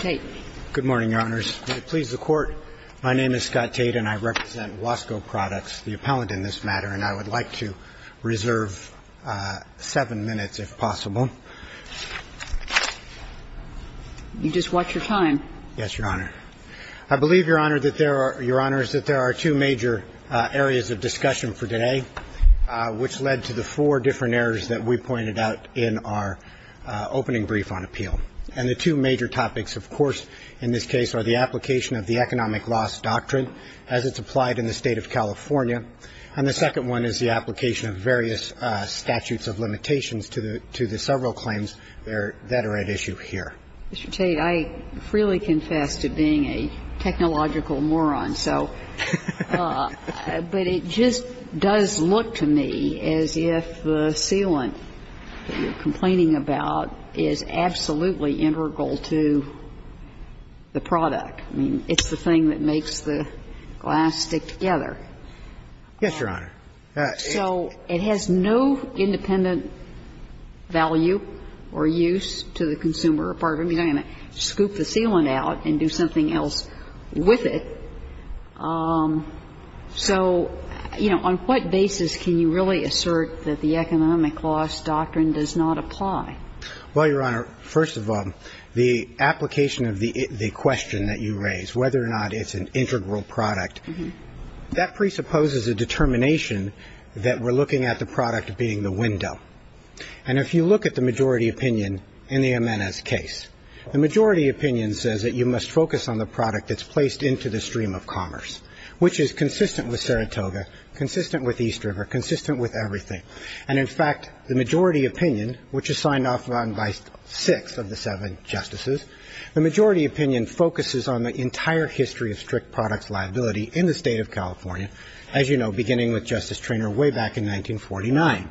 Tate. Good morning, Your Honors. May it please the Court, my name is Scott Tate and I represent WASCO PRODUCTS, the appellant in this matter, and I would like to reserve seven minutes, if possible. You just watch your time. Yes, Your Honor. I believe, Your Honor, that there are two major areas of discussion for today, which led to the four different errors that we pointed out in our opening brief on appeal. And the two major topics, of course, in this case, are the application of the Economic Loss Doctrine as it's applied in the State of California, and the second one is the application of various statutes of limitations to the several claims that are at issue here. Mr. Tate, I freely confess to being a technological moron. So, but it just does look to me as if the sealant that you're complaining about is absolutely integral to the product. I mean, it's the thing that makes the glass stick together. Yes, Your Honor. So it has no independent value or use to the consumer or part of it. I mean, you're going to scoop the sealant out and do something else with it. So, you know, on what basis can you really assert that the Economic Loss Doctrine does not apply? Well, Your Honor, first of all, the application of the question that you raised, whether or not it's an integral product, that presupposes a determination that we're looking at the product being the window. And if you look at the majority opinion in the Amenas case, the majority opinion says that you must focus on the product that's placed into the stream of commerce, which is consistent with Saratoga, consistent with East River, consistent with everything. And, in fact, the majority opinion, which is signed off on by six of the seven justices, the majority opinion focuses on the entire history of strict products liability in the State of California, as you know, beginning with Justice Treanor way back in 1949.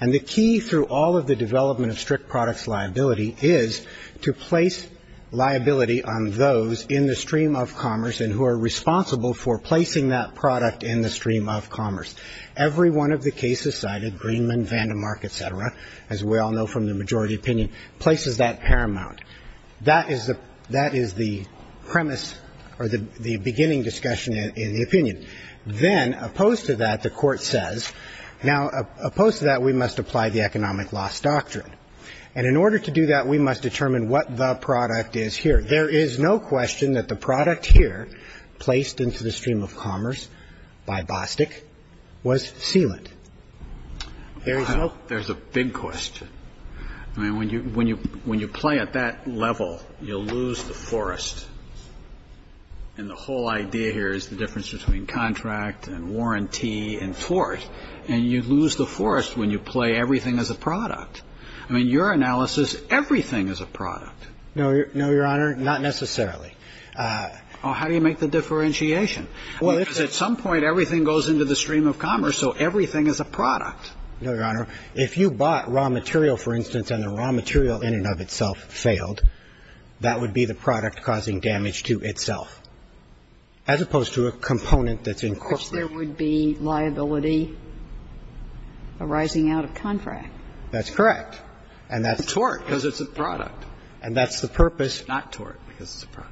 And the key through all of the development of strict products liability is to place liability on those in the stream of commerce and who are responsible for placing that product in the stream of commerce. Every one of the cases cited, Greenman, Vandermark, et cetera, as we all know from the majority opinion, places that paramount. That is the premise or the beginning discussion in the opinion. Then, opposed to that, the Court says, now, opposed to that, we must apply the economic loss doctrine. And in order to do that, we must determine what the product is here. There is no question that the product here placed into the stream of commerce by Bostic was sealant. There is no question. There's a big question. I mean, when you play at that level, you'll lose the forest. And the whole idea here is the difference between contract and warranty and force. And you lose the force when you play everything as a product. I mean, your analysis, everything is a product. No, Your Honor, not necessarily. How do you make the differentiation? Because at some point, everything goes into the stream of commerce, so everything is a product. No, Your Honor. If you bought raw material, for instance, and the raw material in and of itself failed, that would be the product causing damage to itself, as opposed to a component that's incorporated. Which there would be liability arising out of contract. That's correct. Tort, because it's a product. And that's the purpose. Not tort, because it's a product.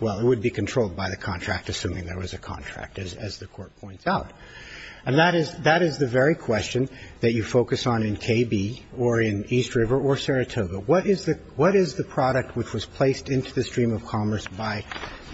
Well, it would be controlled by the contract, assuming there was a contract, as the Court points out. And that is the very question that you focus on in KB or in East River or Saratoga. What is the product which was placed into the stream of commerce by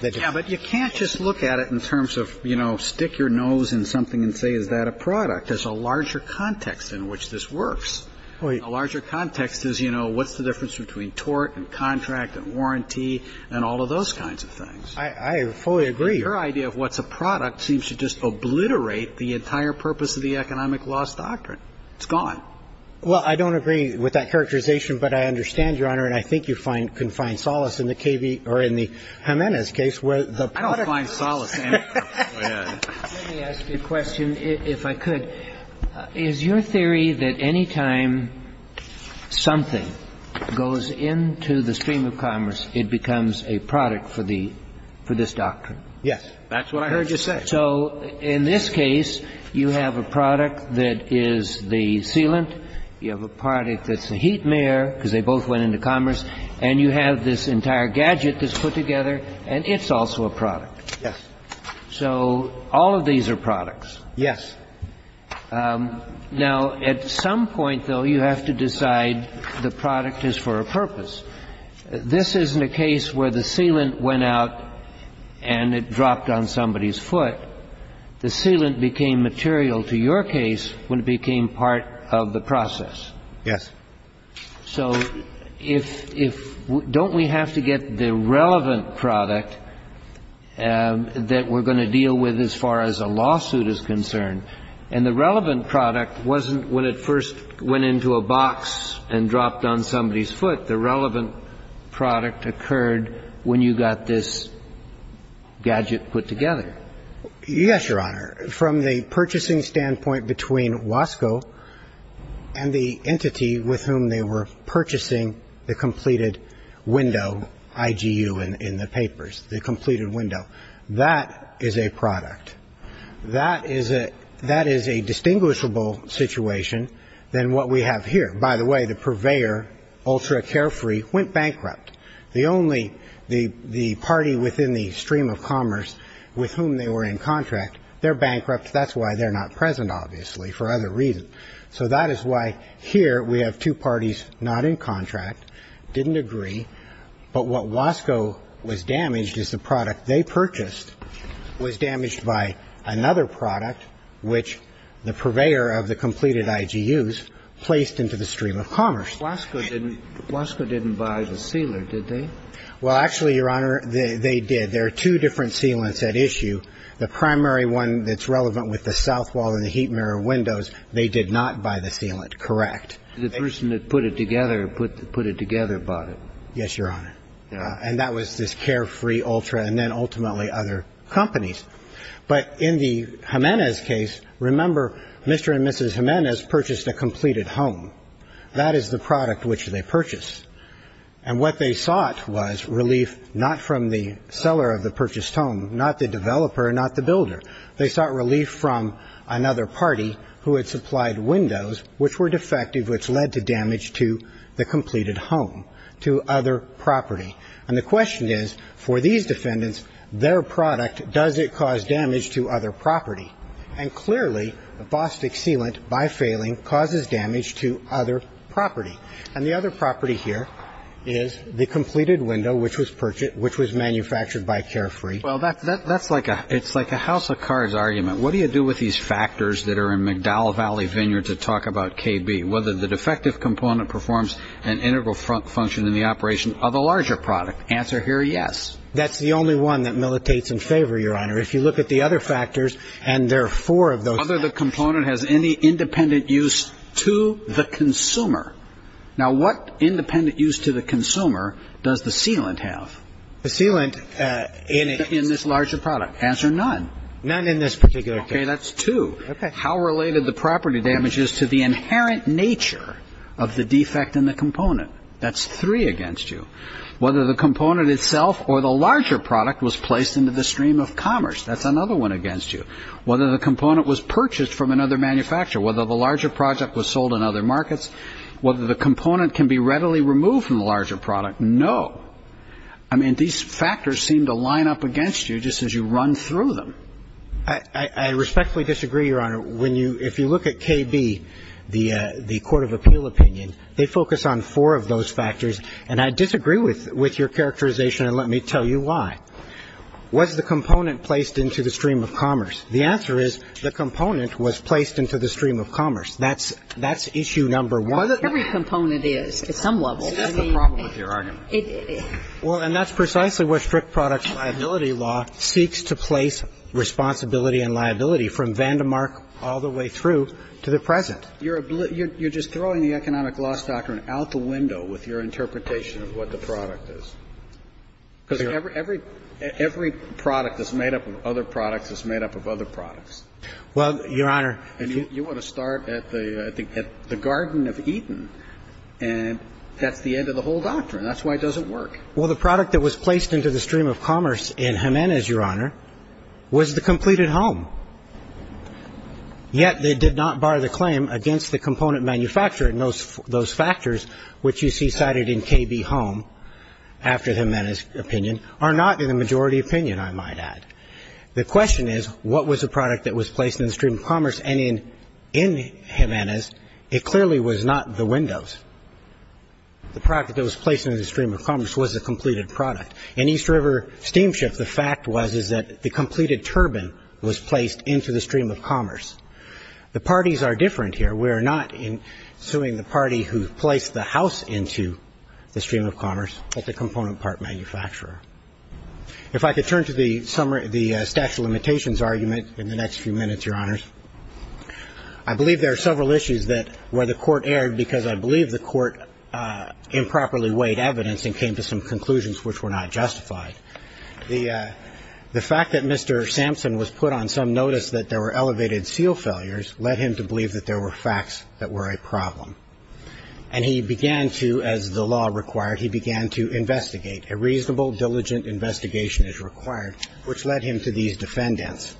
the different people? Yeah, but you can't just look at it in terms of, you know, stick your nose in something and say, is that a product? There's a larger context in which this works. A larger context is, you know, what's the difference between tort and contract and warranty and all of those kinds of things. I fully agree. Your idea of what's a product seems to just obliterate the entire purpose of the economic loss doctrine. It's gone. Well, I don't agree with that characterization, but I understand, Your Honor, and I think you can find solace in the KB or in the Jimenez case where the product is. I don't find solace. Go ahead. Let me ask you a question, if I could. Is your theory that any time something goes into the stream of commerce, it becomes a product for the – for this doctrine? Yes. That's what I heard you say. So in this case, you have a product that is the sealant. You have a product that's the heat mirror, because they both went into commerce. And you have this entire gadget that's put together, and it's also a product. Yes. So all of these are products. Yes. Now, at some point, though, you have to decide the product is for a purpose. This isn't a case where the sealant went out and it dropped on somebody's foot. The sealant became material to your case when it became part of the process. Yes. So if – don't we have to get the relevant product that we're going to deal with as far as a lawsuit is concerned? And the relevant product wasn't when it first went into a box and dropped on somebody's foot. The relevant product occurred when you got this gadget put together. Yes, Your Honor. From the purchasing standpoint between WASCO and the entity with whom they were purchasing the completed window, IGU in the papers, the completed window, that is a product. That is a – that is a distinguishable situation than what we have here. By the way, the purveyor, UltraCarefree, went bankrupt. The only – the party within the stream of commerce with whom they were in contract, they're bankrupt. That's why they're not present, obviously, for other reasons. So that is why here we have two parties not in contract, didn't agree, but what WASCO was damaged is the product they purchased was damaged by another product, which the Wasco didn't buy the sealant, did they? Well, actually, Your Honor, they did. There are two different sealants at issue. The primary one that's relevant with the south wall and the heat mirror windows, they did not buy the sealant, correct. The person that put it together put it together bought it. Yes, Your Honor. And that was this Carefree, Ultra, and then ultimately other companies. But in the Jimenez case, remember, Mr. and Mrs. Jimenez purchased a completed home. That is the product which they purchased. And what they sought was relief not from the seller of the purchased home, not the developer, not the builder. They sought relief from another party who had supplied windows, which were defective, which led to damage to the completed home, to other property. And the question is, for these defendants, their product, does it cause damage to other property? And clearly, the Bostick sealant, by failing, causes damage to other property. And the other property here is the completed window, which was purchased, which was manufactured by Carefree. Well, that's like a house of cards argument. What do you do with these factors that are in McDowell Valley Vineyard to talk about KB, whether the defective component performs an integral function in the operation of a larger product? Answer here, yes. That's the only one that militates in favor, Your Honor. If you look at the other factors, and there are four of those. Whether the component has any independent use to the consumer. Now, what independent use to the consumer does the sealant have? The sealant in this larger product. Answer, none. None in this particular case. Okay, that's two. How related the property damages to the inherent nature of the defect in the component? That's three against you. Whether the component itself or the larger product was placed into the stream of commerce. That's another one against you. Whether the component was purchased from another manufacturer. Whether the larger project was sold in other markets. Whether the component can be readily removed from the larger product. No. I mean, these factors seem to line up against you just as you run through them. I respectfully disagree, Your Honor. When you ‑‑ if you look at KB, the court of appeal opinion, they focus on four of those factors. And I disagree with your characterization, and let me tell you why. Was the component placed into the stream of commerce? The answer is the component was placed into the stream of commerce. That's issue number one. Every component is at some level. That's the problem with your argument. Well, and that's precisely where strict products liability law seeks to place responsibility and liability from Vandermark all the way through to the present. You're just throwing the economic loss doctrine out the window with your interpretation of what the product is. Because every product that's made up of other products is made up of other products. Well, Your Honor. And you want to start at the garden of Eden, and that's the end of the whole doctrine. That's why it doesn't work. Well, the product that was placed into the stream of commerce in Jimenez, Your Honor, was the completed home. Yet they did not bar the claim against the component manufacturer. And those factors, which you see cited in KB Home after Jimenez opinion, are not in the majority opinion, I might add. The question is, what was the product that was placed in the stream of commerce? And in Jimenez, it clearly was not the windows. The product that was placed in the stream of commerce was the completed product. In East River Steamship, the fact was is that the completed turbine was placed into the stream of commerce. The parties are different here. We are not suing the party who placed the house into the stream of commerce. It's a component part manufacturer. If I could turn to the statute of limitations argument in the next few minutes, Your Honors. I believe there are several issues where the court erred because I believe the court improperly weighed evidence and came to some conclusions which were not justified. The fact that Mr. Sampson was put on some notice that there were elevated seal failures led him to believe that there were facts that were a problem. And he began to, as the law required, he began to investigate. A reasonable, diligent investigation is required, which led him to these defendants.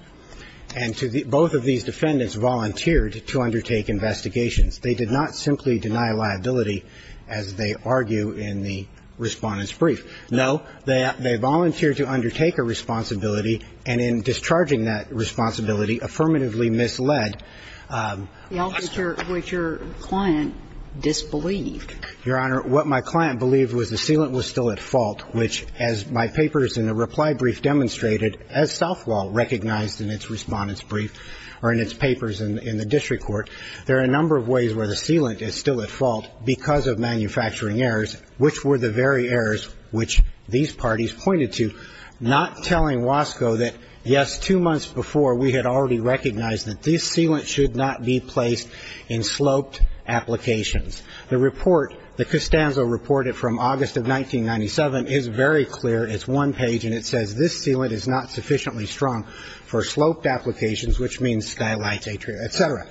And both of these defendants volunteered to undertake investigations. They did not simply deny liability, as they argue in the Respondent's Brief. No. They volunteered to undertake a responsibility, and in discharging that responsibility, affirmatively misled. What your client disbelieved. Your Honor, what my client believed was the sealant was still at fault, which, as my papers in the reply brief demonstrated, as Southwell recognized in its Respondent's Brief or in its papers in the district court. There are a number of ways where the sealant is still at fault because of manufacturing errors, which were the very errors which these parties pointed to, not telling Wasco that, yes, two months before, we had already recognized that this sealant should not be placed in sloped applications. The report, the Costanzo report from August of 1997, is very clear. It's one page, and it says this sealant is not sufficiently strong for sloped applications, which means skylights, etc.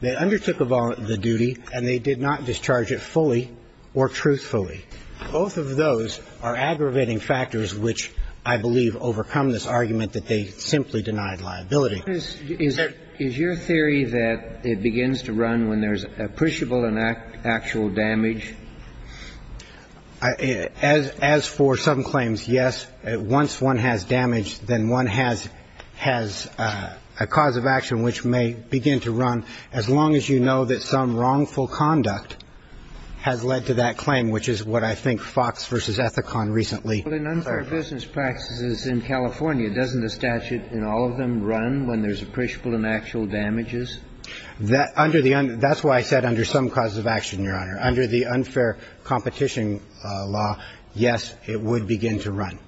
They undertook the duty, and they did not discharge it fully or truthfully. Both of those are aggravating factors which I believe overcome this argument that they simply denied liability. Is your theory that it begins to run when there's appreciable and actual damage? As for some claims, yes. Once one has damage, then one has a cause of action which may begin to run as long as you know that some wrongful conduct has led to that claim, which is what I think Fox v. Ethicon recently argued. But in unfair business practices in California, doesn't the statute in all of them run when there's appreciable and actual damages? That's why I said under some cause of action, Your Honor. Under the unfair competition law, yes, it would begin to run.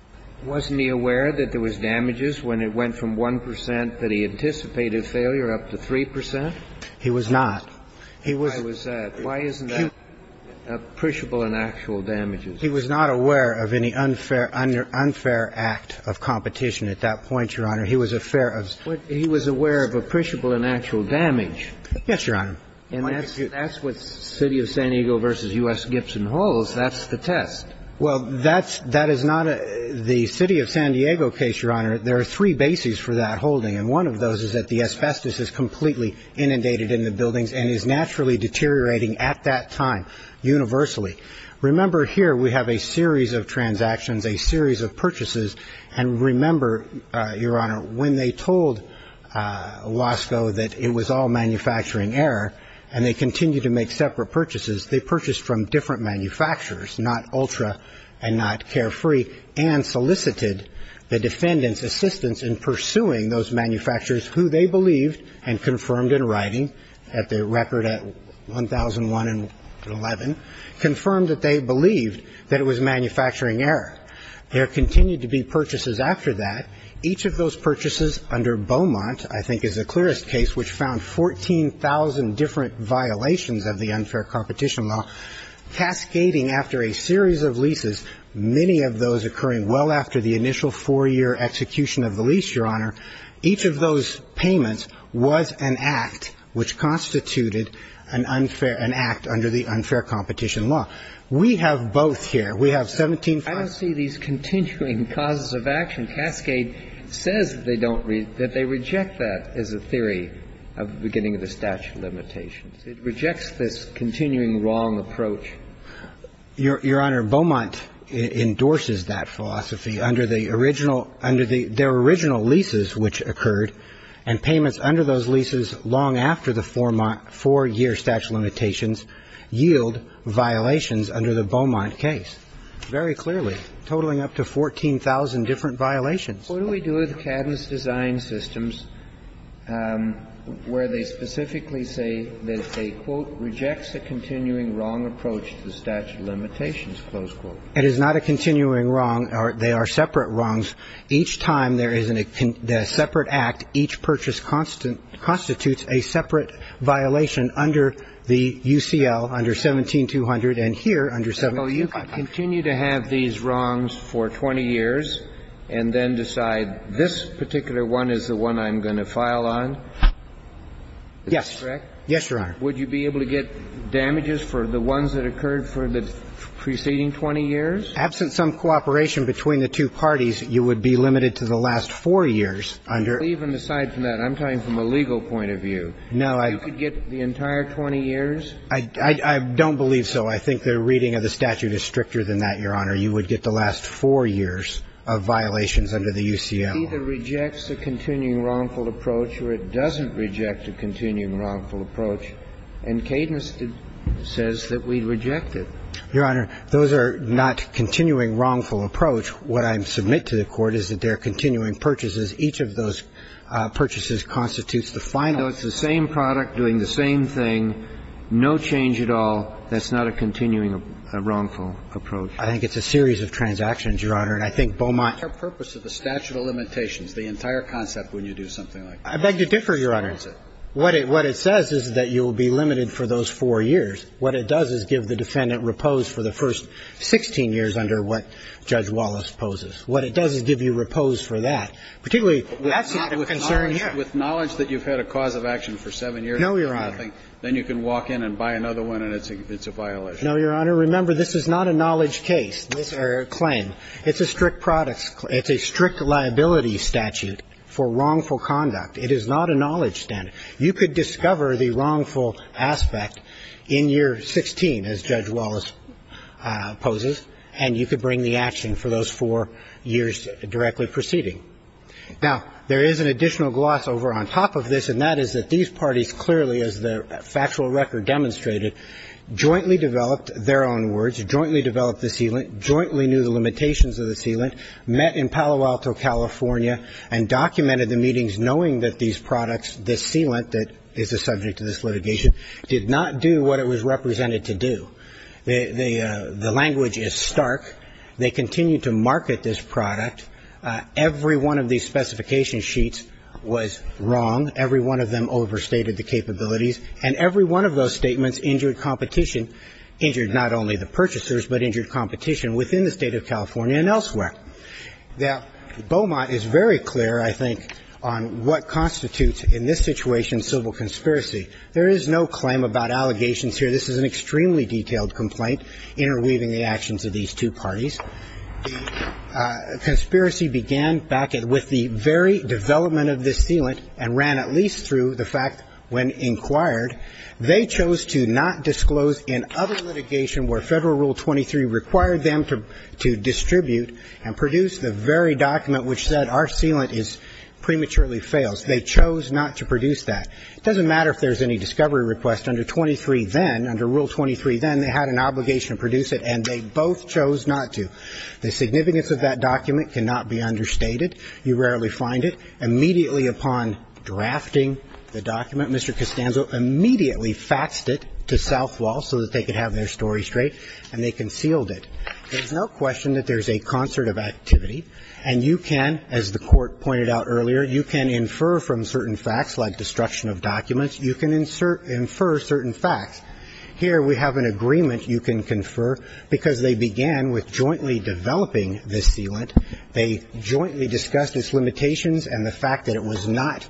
Wasn't he aware that there was damages when it went from 1 percent that he anticipated failure up to 3 percent? He was not. Why was that? Why isn't that appreciable and actual damages? He was not aware of any unfair act of competition at that point, Your Honor. He was aware of appreciable and actual damage. Yes, Your Honor. And that's what City of San Diego v. U.S. Gibson holds. That's the test. Well, that is not the City of San Diego case, Your Honor. There are three bases for that holding, and one of those is that the asbestos is completely inundated in the buildings and is naturally deteriorating at that time universally. Remember here we have a series of transactions, a series of purchases. And remember, Your Honor, when they told Wasco that it was all manufacturing error and they continued to make separate purchases, they purchased from different manufacturers, not Ultra and not Carefree, and solicited the defendant's assistance in pursuing those manufacturers who they believed and confirmed in writing at the record at 1001 and 11, confirmed that they believed that it was manufacturing error. There continued to be purchases after that. Each of those purchases under Beaumont, I think is the clearest case, which found 14,000 different violations of the unfair competition law cascading after a series of leases, many of those occurring well after the initial four-year execution of the lease, Your Honor. Each of those payments was an act which constituted an unfair act under the unfair competition law. We have both here. We have 17,000. I don't see these continuing causes of action. Cascade says that they don't read, that they reject that as a theory of the beginning of the statute of limitations. It rejects this continuing wrong approach. Your Honor, Beaumont endorses that philosophy under the original, under their original leases which occurred, and payments under those leases long after the four-year statute of limitations yield violations under the Beaumont case. Very clearly. Totaling up to 14,000 different violations. What do we do with Cadmus design systems where they specifically say that they, quote, rejects the continuing wrong approach to the statute of limitations, close quote? It is not a continuing wrong. They are separate wrongs. Each time there is a separate act, each purchase constitutes a separate violation under the UCL, under 17200, and here under 1725. Well, you could continue to have these wrongs for 20 years and then decide this particular one is the one I'm going to file on. Yes. Yes, Your Honor. Would you be able to get damages for the ones that occurred for the preceding 20 years? Absent some cooperation between the two parties, you would be limited to the last four years under. Even aside from that, I'm talking from a legal point of view. No. You could get the entire 20 years? I don't believe so. I think the reading of the statute is stricter than that, Your Honor. You would get the last four years of violations under the UCL. It either rejects the continuing wrongful approach or it doesn't reject the continuing wrongful approach, and Cadmus says that we reject it. Your Honor, those are not continuing wrongful approach. What I submit to the Court is that they are continuing purchases. Each of those purchases constitutes the final. So it's the same product doing the same thing, no change at all. That's not a continuing wrongful approach. I think it's a series of transactions, Your Honor. And I think Beaumont ---- What's the purpose of the statute of limitations, the entire concept when you do something like this? I beg to differ, Your Honor. What it says is that you will be limited for those four years. What it does is give the defendant repose for the first 16 years under what Judge Wallace poses. What it does is give you repose for that. Particularly, that's not a concern here. With knowledge that you've had a cause of action for seven years? No, Your Honor. Then you can walk in and buy another one and it's a violation. No, Your Honor. Remember, this is not a knowledge case or claim. It's a strict products ---- it's a strict liability statute for wrongful conduct. It is not a knowledge statute. You could discover the wrongful aspect in year 16, as Judge Wallace poses, and you could bring the action for those four years directly preceding. Now, there is an additional gloss over on top of this, and that is that these parties clearly, as the factual record demonstrated, jointly developed their own words, jointly developed the sealant, jointly knew the limitations of the sealant, met in Palo Alto, California, and documented the meetings knowing that these products, the sealant that is the subject of this litigation, did not do what it was represented to do. The language is stark. They continued to market this product. Every one of these specification sheets was wrong. Every one of them overstated the capabilities. And every one of those statements injured competition, injured not only the purchasers, but injured competition within the State of California and elsewhere. Now, Beaumont is very clear, I think, on what constitutes in this situation civil conspiracy. There is no claim about allegations here. This is an extremely detailed complaint interweaving the actions of these two parties. The conspiracy began back with the very development of this sealant and ran at least through the fact when inquired, they chose to not disclose in other litigation where Federal Rule 23 required them to distribute and produce the very document which said our sealant prematurely fails. They chose not to produce that. It doesn't matter if there's any discovery request. Under 23 then, under Rule 23 then, they had an obligation to produce it, and they both chose not to. The significance of that document cannot be understated. You rarely find it. Immediately upon drafting the document, Mr. Costanzo immediately faxed it to Southwall so that they could have their story straight, and they concealed it. There's no question that there's a concert of activity, and you can, as the Court of documents, you can infer certain facts. Here we have an agreement you can confer because they began with jointly developing this sealant. They jointly discussed its limitations and the fact that it was not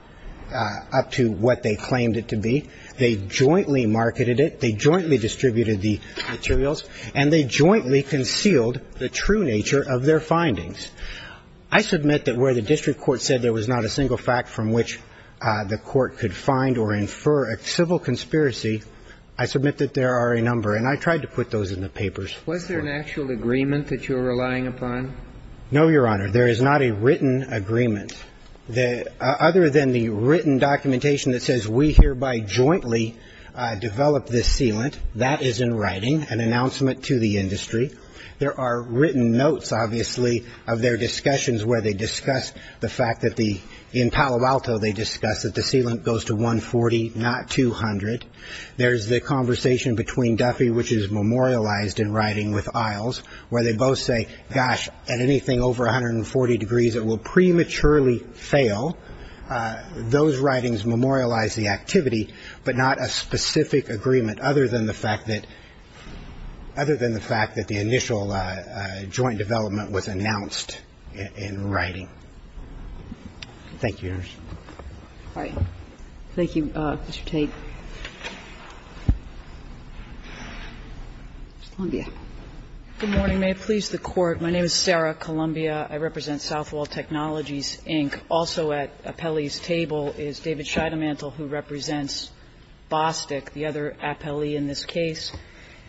up to what they claimed it to be. They jointly marketed it. They jointly distributed the materials, and they jointly concealed the true nature of their findings. I submit that where the district court said there was not a single fact from which the court could find or infer a civil conspiracy, I submit that there are a number, and I tried to put those in the papers. Was there an actual agreement that you were relying upon? No, Your Honor. There is not a written agreement. Other than the written documentation that says we hereby jointly developed this sealant, that is in writing, an announcement to the industry. There are written notes, obviously, of their discussions where they discussed the fact that in Palo Alto they discussed that the sealant goes to 140, not 200. There's the conversation between Duffy, which is memorialized in writing with Isles, where they both say, gosh, at anything over 140 degrees it will prematurely fail. Those writings memorialize the activity, but not a specific agreement, other than the fact that the initial joint development was announced in writing. Thank you, Your Honor. All right. Thank you, Mr. Tate. Ms. Columbia. Good morning. May it please the Court. My name is Sarah Columbia. I represent Southwall Technologies, Inc. Also at Appellee's table is David Scheidemantel, who represents Bostick, the other appellee in this case.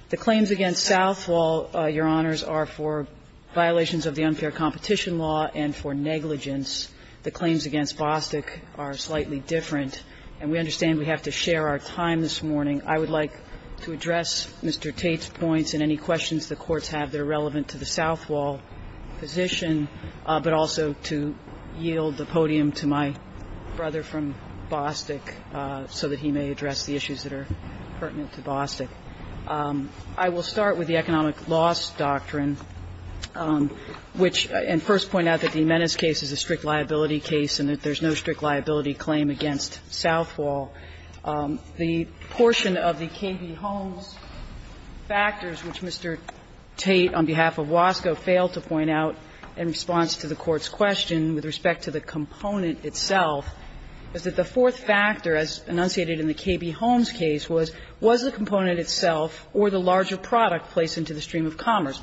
The claims against Southwall, Your Honors, are for violations of the unfair competition law and for negligence. The claims against Bostick are slightly different. And we understand we have to share our time this morning. I would like to address Mr. Tate's points and any questions the courts have that are relevant to the Southwall position, but also to yield the podium to my brother from Bostick so that he may address the issues that are pertinent to Bostick. I will start with the economic loss doctrine, which, and first point out that the Menace case is a strict liability case and that there's no strict liability claim against Southwall. The portion of the KB Holmes factors, which Mr. Tate, on behalf of Wasco, failed to point out in response to the Court's question with respect to the component itself, is that the fourth factor, as enunciated in the KB Holmes case, was, was the component itself or the larger product placed into the stream of commerce.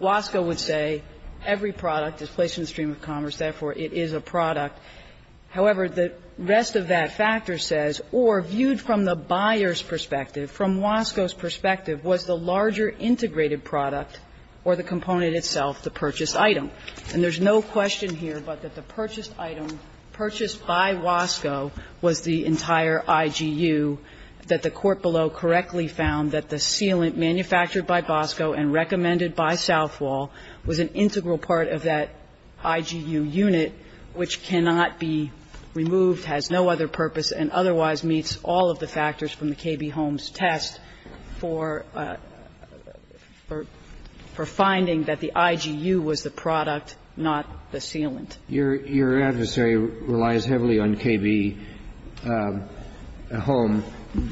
Wasco would say every product is placed in the stream of commerce, therefore, it is a product. However, the rest of that factor says, or viewed from the buyer's perspective, from Wasco's perspective, was the larger integrated product or the component itself the purchased item. And there's no question here but that the purchased item, purchased by Wasco, was the entire IGU, that the court below correctly found that the sealant manufactured by Bosco and recommended by Southwall was an integral part of that IGU unit, which cannot be removed, has no other purpose, and otherwise meets all of the factors from the KB Holmes test for, for finding that the IGU was the product, not the sealant. Your adversary relies heavily on KB Holmes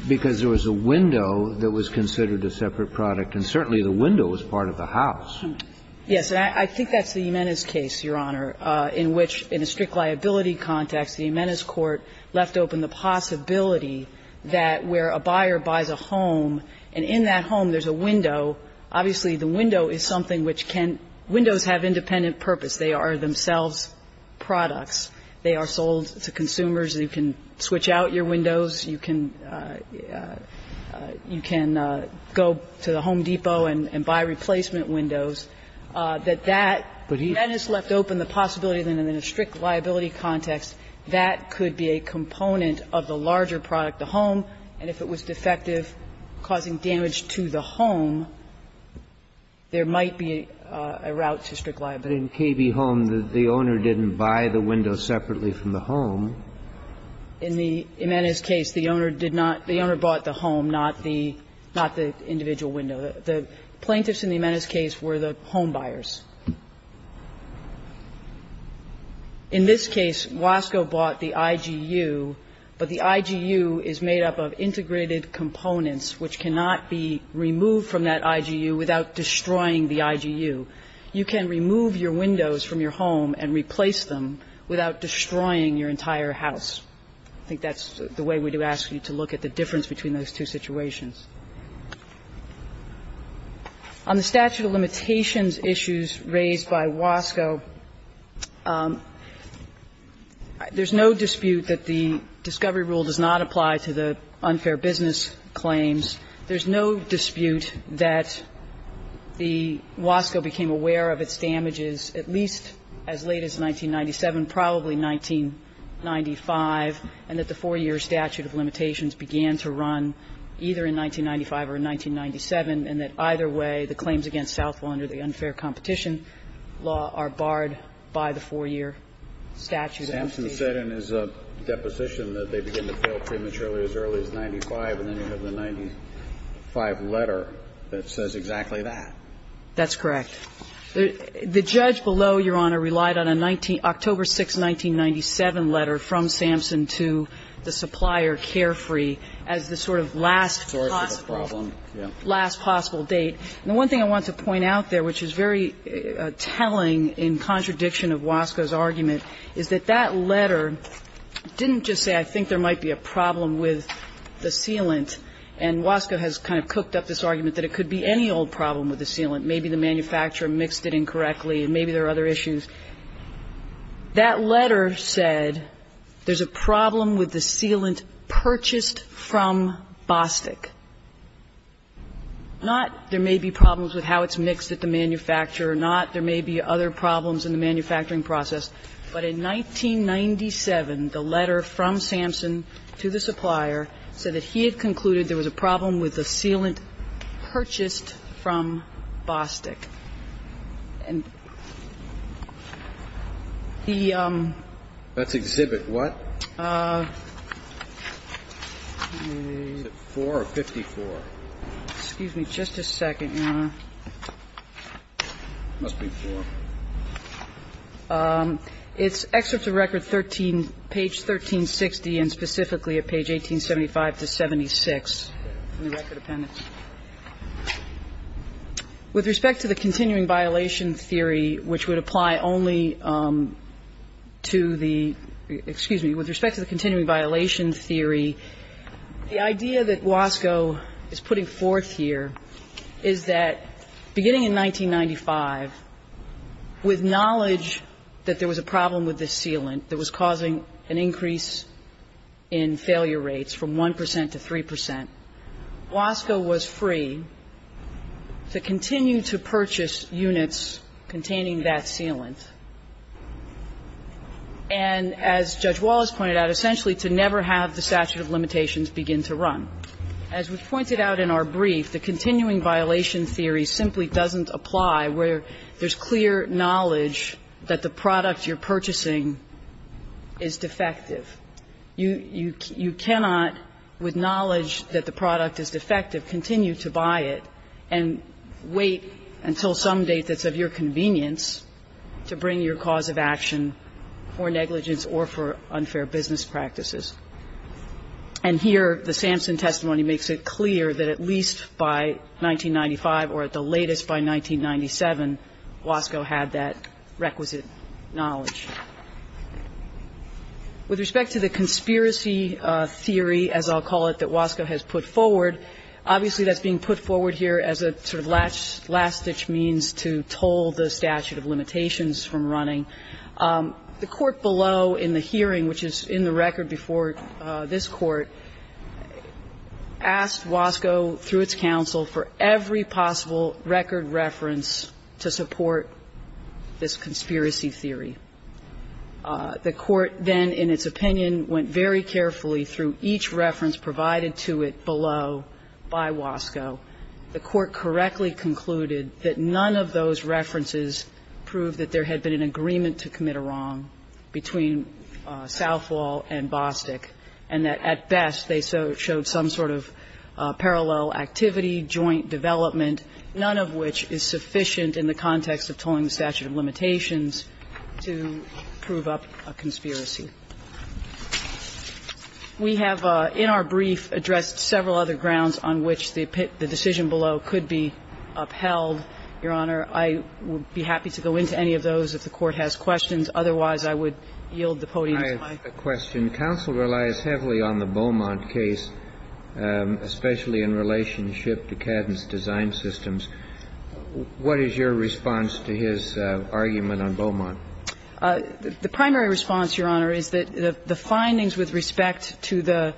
because there was a window that was considered a separate product, and certainly the window was part of the house. Yes. And I think that's the Jimenez case, Your Honor, in which, in a strict liability context, the Jimenez court left open the possibility that where a buyer buys a home and in that home there's a window, obviously the window is something which can – windows have independent purpose. They are themselves products. They are sold to consumers. You can switch out your windows. You can, you can go to the Home Depot and buy replacement windows. That that Jimenez left open the possibility that in a strict liability context, that could be a component of the larger product, the home, and if it was defective causing damage to the home, there might be a route to strict liability. But in KB Holmes, the owner didn't buy the window separately from the home. In the Jimenez case, the owner did not. The owner bought the home, not the individual window. The plaintiffs in the Jimenez case were the home buyers. In this case, Wasco bought the IGU, but the IGU is made up of integrated components which cannot be removed from that IGU without destroying the IGU. You can remove your windows from your home and replace them without destroying your entire house. I think that's the way we do ask you to look at the difference between those two situations. On the statute of limitations issues raised by Wasco, there's no dispute that the discovery rule does not apply to the unfair business claims. There's no dispute that the Wasco became aware of its damages at least as late as 1997, probably 1995, and that the 4-year statute of limitations began to run either in 1997 or 1995 or in 1997, and that either way, the claims against Southwell under the unfair competition law are barred by the 4-year statute of limitations. Sampson said in his deposition that they begin to fail prematurely as early as 1995, and then you have the 1995 letter that says exactly that. That's correct. The judge below, Your Honor, relied on a October 6, 1997 letter from Sampson to the last possible date. And the one thing I want to point out there, which is very telling in contradiction of Wasco's argument, is that that letter didn't just say, I think there might be a problem with the sealant, and Wasco has kind of cooked up this argument that it could be any old problem with the sealant. Maybe the manufacturer mixed it incorrectly, and maybe there are other issues. That letter said there's a problem with the sealant purchased from Bostick. Not there may be problems with how it's mixed at the manufacturer, not there may be other problems in the manufacturing process, but in 1997, the letter from Sampson to the supplier said that he had concluded there was a problem with the sealant purchased from Bostick. And the ñ That's exhibit what? Huh. Is it four or 54? Excuse me. Just a second, Your Honor. It must be four. It's excerpt of record 13, page 1360, and specifically at page 1875 to 76 in the record appendix. With respect to the continuing violation theory, which would apply only to the ñ excuse me. With respect to the continuing violation theory, the idea that Wasco is putting forth here is that beginning in 1995, with knowledge that there was a problem with this sealant that was causing an increase in failure rates from 1 percent to 3 percent, Wasco was free to continue to purchase units containing that sealant and, as Judge Wallace pointed out, essentially to never have the statute of limitations begin to run. As was pointed out in our brief, the continuing violation theory simply doesn't apply where there's clear knowledge that the product you're purchasing is defective. You cannot, with knowledge that the product is defective, continue to buy it and wait until some date that's of your convenience to bring your cause of action for negligence or for unfair business practices. And here, the Sampson testimony makes it clear that at least by 1995, or at the latest by 1997, Wasco had that requisite knowledge. With respect to the conspiracy theory, as I'll call it, that Wasco has put forward, obviously that's being put forward here as a sort of last-ditch means to toll the statute of limitations from running. The court below in the hearing, which is in the record before this Court, asked Wasco, through its counsel, for every possible record reference to support this conspiracy theory. The court then, in its opinion, went very carefully through each reference provided to it below by Wasco. The court correctly concluded that none of those references proved that there had been an agreement to commit a wrong between Southall and Bostick, and that at best they showed some sort of parallel activity, joint development, none of which is sufficient in the context of tolling the statute of limitations to prove up a conspiracy. We have, in our brief, addressed several other grounds on which the decision below could be upheld. Your Honor, I would be happy to go into any of those if the Court has questions. Otherwise, I would yield the podium to my colleagues. Kennedy, I know you rely as heavily on the Beaumont case, especially in relationship to Cadden's design systems. What is your response to his argument on Beaumont? The primary response, Your Honor, is that the findings with respect to the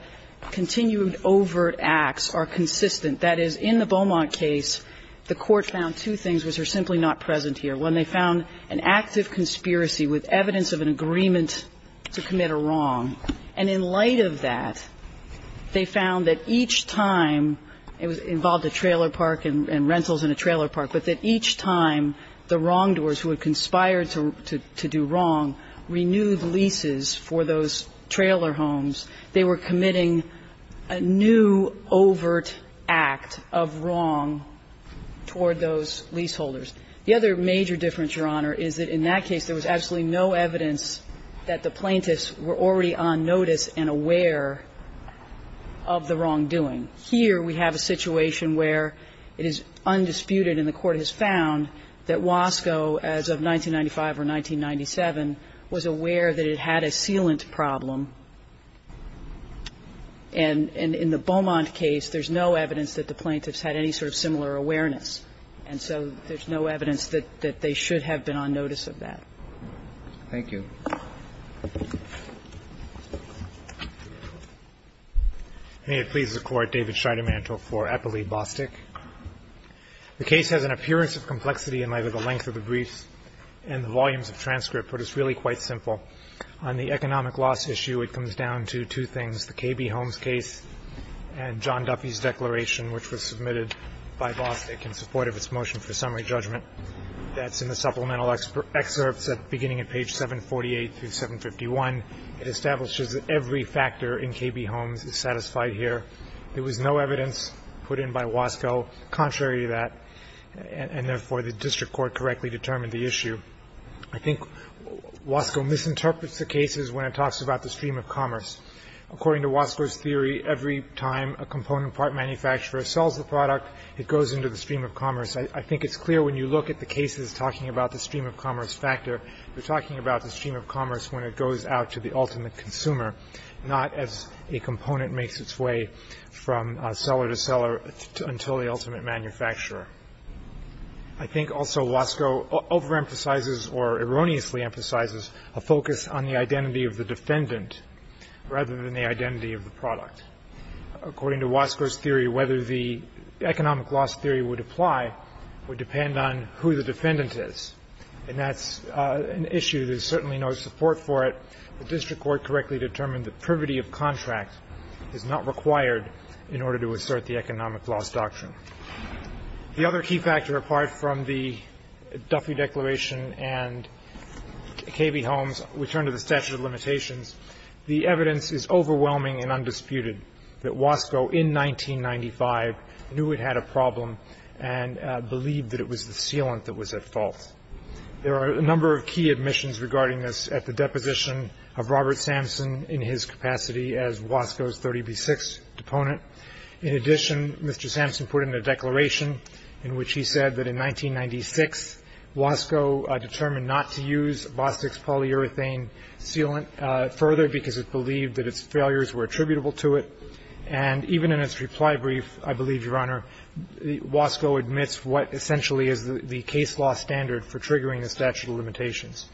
continued overt acts are consistent. That is, in the Beaumont case, the Court found two things which are simply not present here. One, they found an act of conspiracy with evidence of an agreement to commit a wrong. And in light of that, they found that each time it involved a trailer park and rentals in a trailer park, but that each time the wrongdoers who had conspired to do wrong renewed leases for those trailer homes, they were committing a new overt act of wrong toward those leaseholders. The other major difference, Your Honor, is that in that case there was absolutely no evidence that the plaintiffs were already on notice and aware of the wrongdoing. Here we have a situation where it is undisputed and the Court has found that Wasco, as of 1995 or 1997, was aware that it had a sealant problem. And in the Beaumont case, there's no evidence that the plaintiffs had any sort of similar awareness. And so there's no evidence that they should have been on notice of that. Thank you. May it please the Court, David Scheidemantel for Eppley-Bostick. The case has an appearance of complexity in either the length of the briefs and the volumes of transcript, but it's really quite simple. On the economic loss issue, it comes down to two things, the K.B. Holmes case and John Duffy's declaration, which was submitted by Bostick in support of its motion for summary judgment. That's in the supplemental excerpts beginning at page 748 through 751. It establishes that every factor in K.B. Holmes is satisfied here. There was no evidence put in by Wasco contrary to that, and therefore the district court correctly determined the issue. I think Wasco misinterprets the cases when it talks about the stream of commerce. According to Wasco's theory, every time a component part manufacturer sells a product, it goes into the stream of commerce. I think it's clear when you look at the cases talking about the stream of commerce factor, they're talking about the stream of commerce when it goes out to the ultimate consumer, not as a component makes its way from seller to seller until the ultimate manufacturer. I think also Wasco overemphasizes or erroneously emphasizes a focus on the identity of the defendant rather than the identity of the product. According to Wasco's theory, whether the economic loss theory would apply would depend on who the defendant is, and that's an issue. There's certainly no support for it. The district court correctly determined the privity of contract is not required in order to assert the economic loss doctrine. The other key factor apart from the Duffy declaration and K.B. Holmes' return to the statute of limitations, the evidence is overwhelming and undisputed that Wasco in 1995 knew it had a problem and believed that it was the sealant that was at fault. There are a number of key admissions regarding this at the deposition of Robert Samson in his capacity as Wasco's 30B6 deponent. In addition, Mr. Samson put in a declaration in which he said that in 1996, Wasco determined not to use BOSIX polyurethane sealant further because it believed that its failures were attributable to it. And even in its reply brief, I believe, Your Honor, Wasco admits what essentially is the case law standard for triggering the statute of limitations.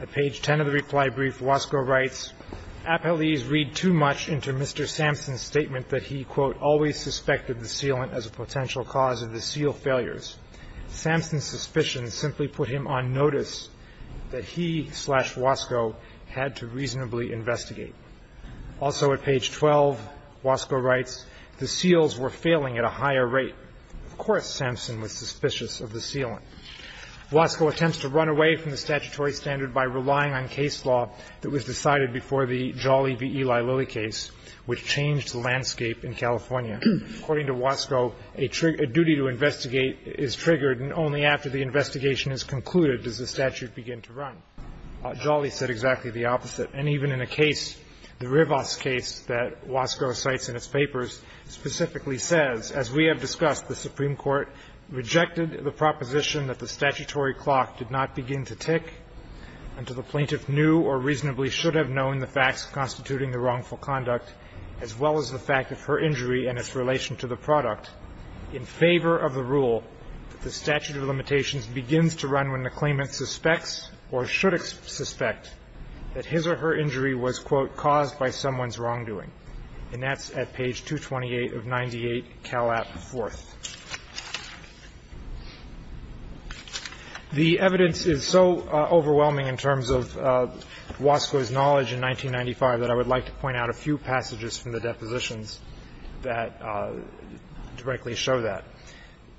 At page 10 of the reply brief, Wasco writes, ''Appellees read too much into Mr. Samson's statement that he, quote, ''always suspected the sealant as a potential cause of the seal failures. ''Samson's suspicions simply put him on notice that he, slash Wasco, had to reasonably investigate.'' Also at page 12, Wasco writes, ''The seals were failing at a higher rate.'' Of course, Samson was suspicious of the sealant. Wasco attempts to run away from the statutory standard by relying on case law that was decided before the Jolly v. Eli Lilly case, which changed the landscape in California. According to Wasco, a duty to investigate is triggered and only after the investigation is concluded does the statute begin to run. Jolly said exactly the opposite. And even in a case, the Rivas case that Wasco cites in his papers, specifically says, ''As we have discussed, the Supreme Court rejected the proposition that the statutory clock did not begin to tick and to the plaintiff knew or reasonably should have known the facts constituting the wrongful conduct as well as the fact of her injury and its relation to the product in favor of the rule that the statute of limitations begins to run when the claimant suspects or should suspect that his or her injury was, quote, ''caused by someone's wrongdoing.'' And that's at page 228 of 98, Calap 4th. The evidence is so overwhelming in terms of Wasco's knowledge in 1995 that I would like to point out a few passages from the depositions that directly show that.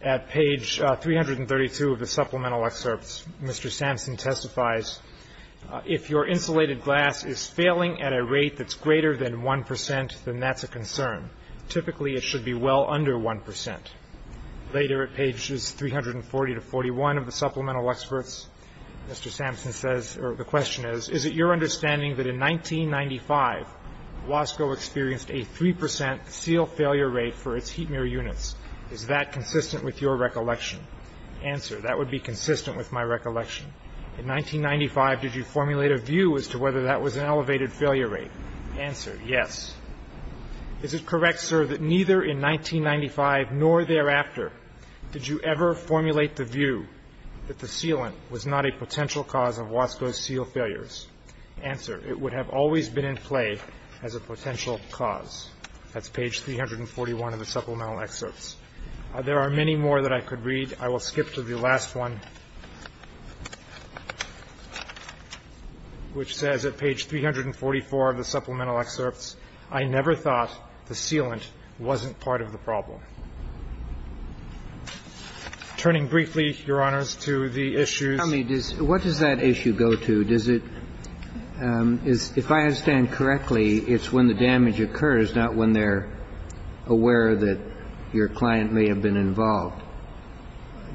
At page 332 of the supplemental excerpts, Mr. Samson testifies, ''If your insulated glass is failing at a rate that's greater than 1 percent, then that's a concern. Typically, it should be well under 1 percent.'' Later, at pages 340 to 341 of the supplemental excerpts, Mr. Samson says, or the question is, ''Is it your understanding that in 1995, Wasco experienced a 3 percent seal failure rate for its heat mirror units? Is that consistent with your recollection?'' Answer, ''That would be consistent with my recollection.'' ''In 1995, did you formulate a view as to whether that was an elevated failure rate?'' Answer, ''Yes.'' ''Is it correct, sir, that neither in 1995 nor thereafter did you ever formulate the view that the sealant was not a potential cause of Wasco's seal failures?'' Answer, ''It would have always been in play as a potential cause.'' That's page 341 of the supplemental excerpts. There are many more that I could read. I will skip to the last one, which says at page 344 of the supplemental excerpts, ''I never thought the sealant wasn't part of the problem.'' Turning briefly, Your Honors, to the issues. Kennedy, what does that issue go to? Does it – if I understand correctly, it's when the damage occurs, not when they're aware that your client may have been involved.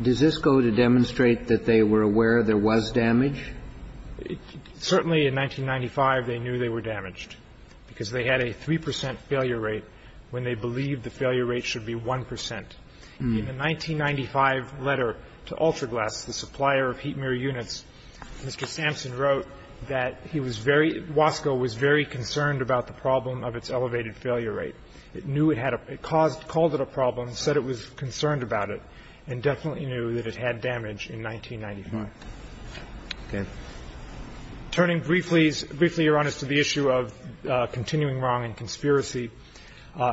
Does this go to demonstrate that they were aware there was damage? Certainly, in 1995, they knew they were damaged, because they had a 3 percent failure rate when they believed the failure rate should be 1 percent. In a 1995 letter to Ultraglass, the supplier of heat mirror units, Mr. Sampson wrote that he was very – Wasco was very concerned about the problem of its elevated failure rate. It knew it had a – it caused – called it a problem, said it was concerned about it, and definitely knew that it had damage in 1995. Okay. Turning briefly, Your Honors, to the issue of continuing wrong and conspiracy.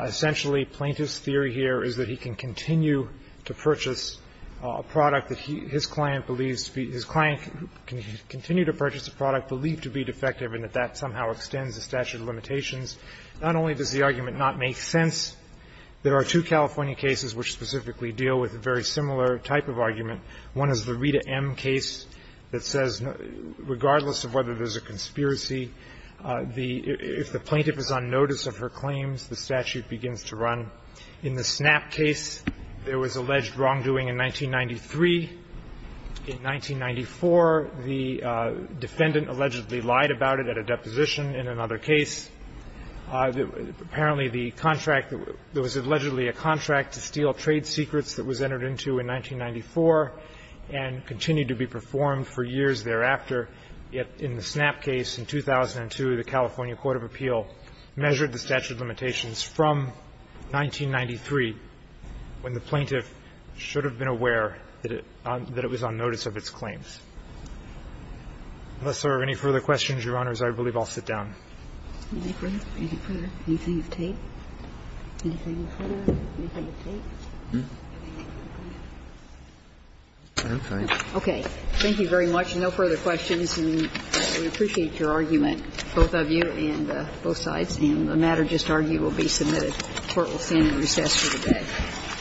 Essentially, plaintiff's theory here is that he can continue to purchase a product that his client believes to be – his client can continue to purchase a product believed to be defective, and that that somehow extends the statute of limitations. Not only does the argument not make sense, there are two California cases which specifically deal with a very similar type of argument. One is the Rita M. case that says regardless of whether there's a conspiracy, the – if the plaintiff is on notice of her claims, the statute begins to run. In the Snap case, there was alleged wrongdoing in 1993. In 1994, the defendant allegedly lied about it at a deposition in another case. Apparently, the contract – there was allegedly a contract to steal trade secrets that was entered into in 1994 and continued to be performed for years thereafter. Yet in the Snap case in 2002, the California Court of Appeal measured the statute of limitations from 1993 when the plaintiff should have been aware that it was on notice of its claims. Unless there are any further questions, Your Honors, I believe I'll sit down. Anything further? Anything of tape? Anything further? Anything of tape? Okay. Thank you very much. No further questions, and we appreciate your argument, both of you and both sides. And the matter just argued will be submitted. The Court will stand in recess for the day.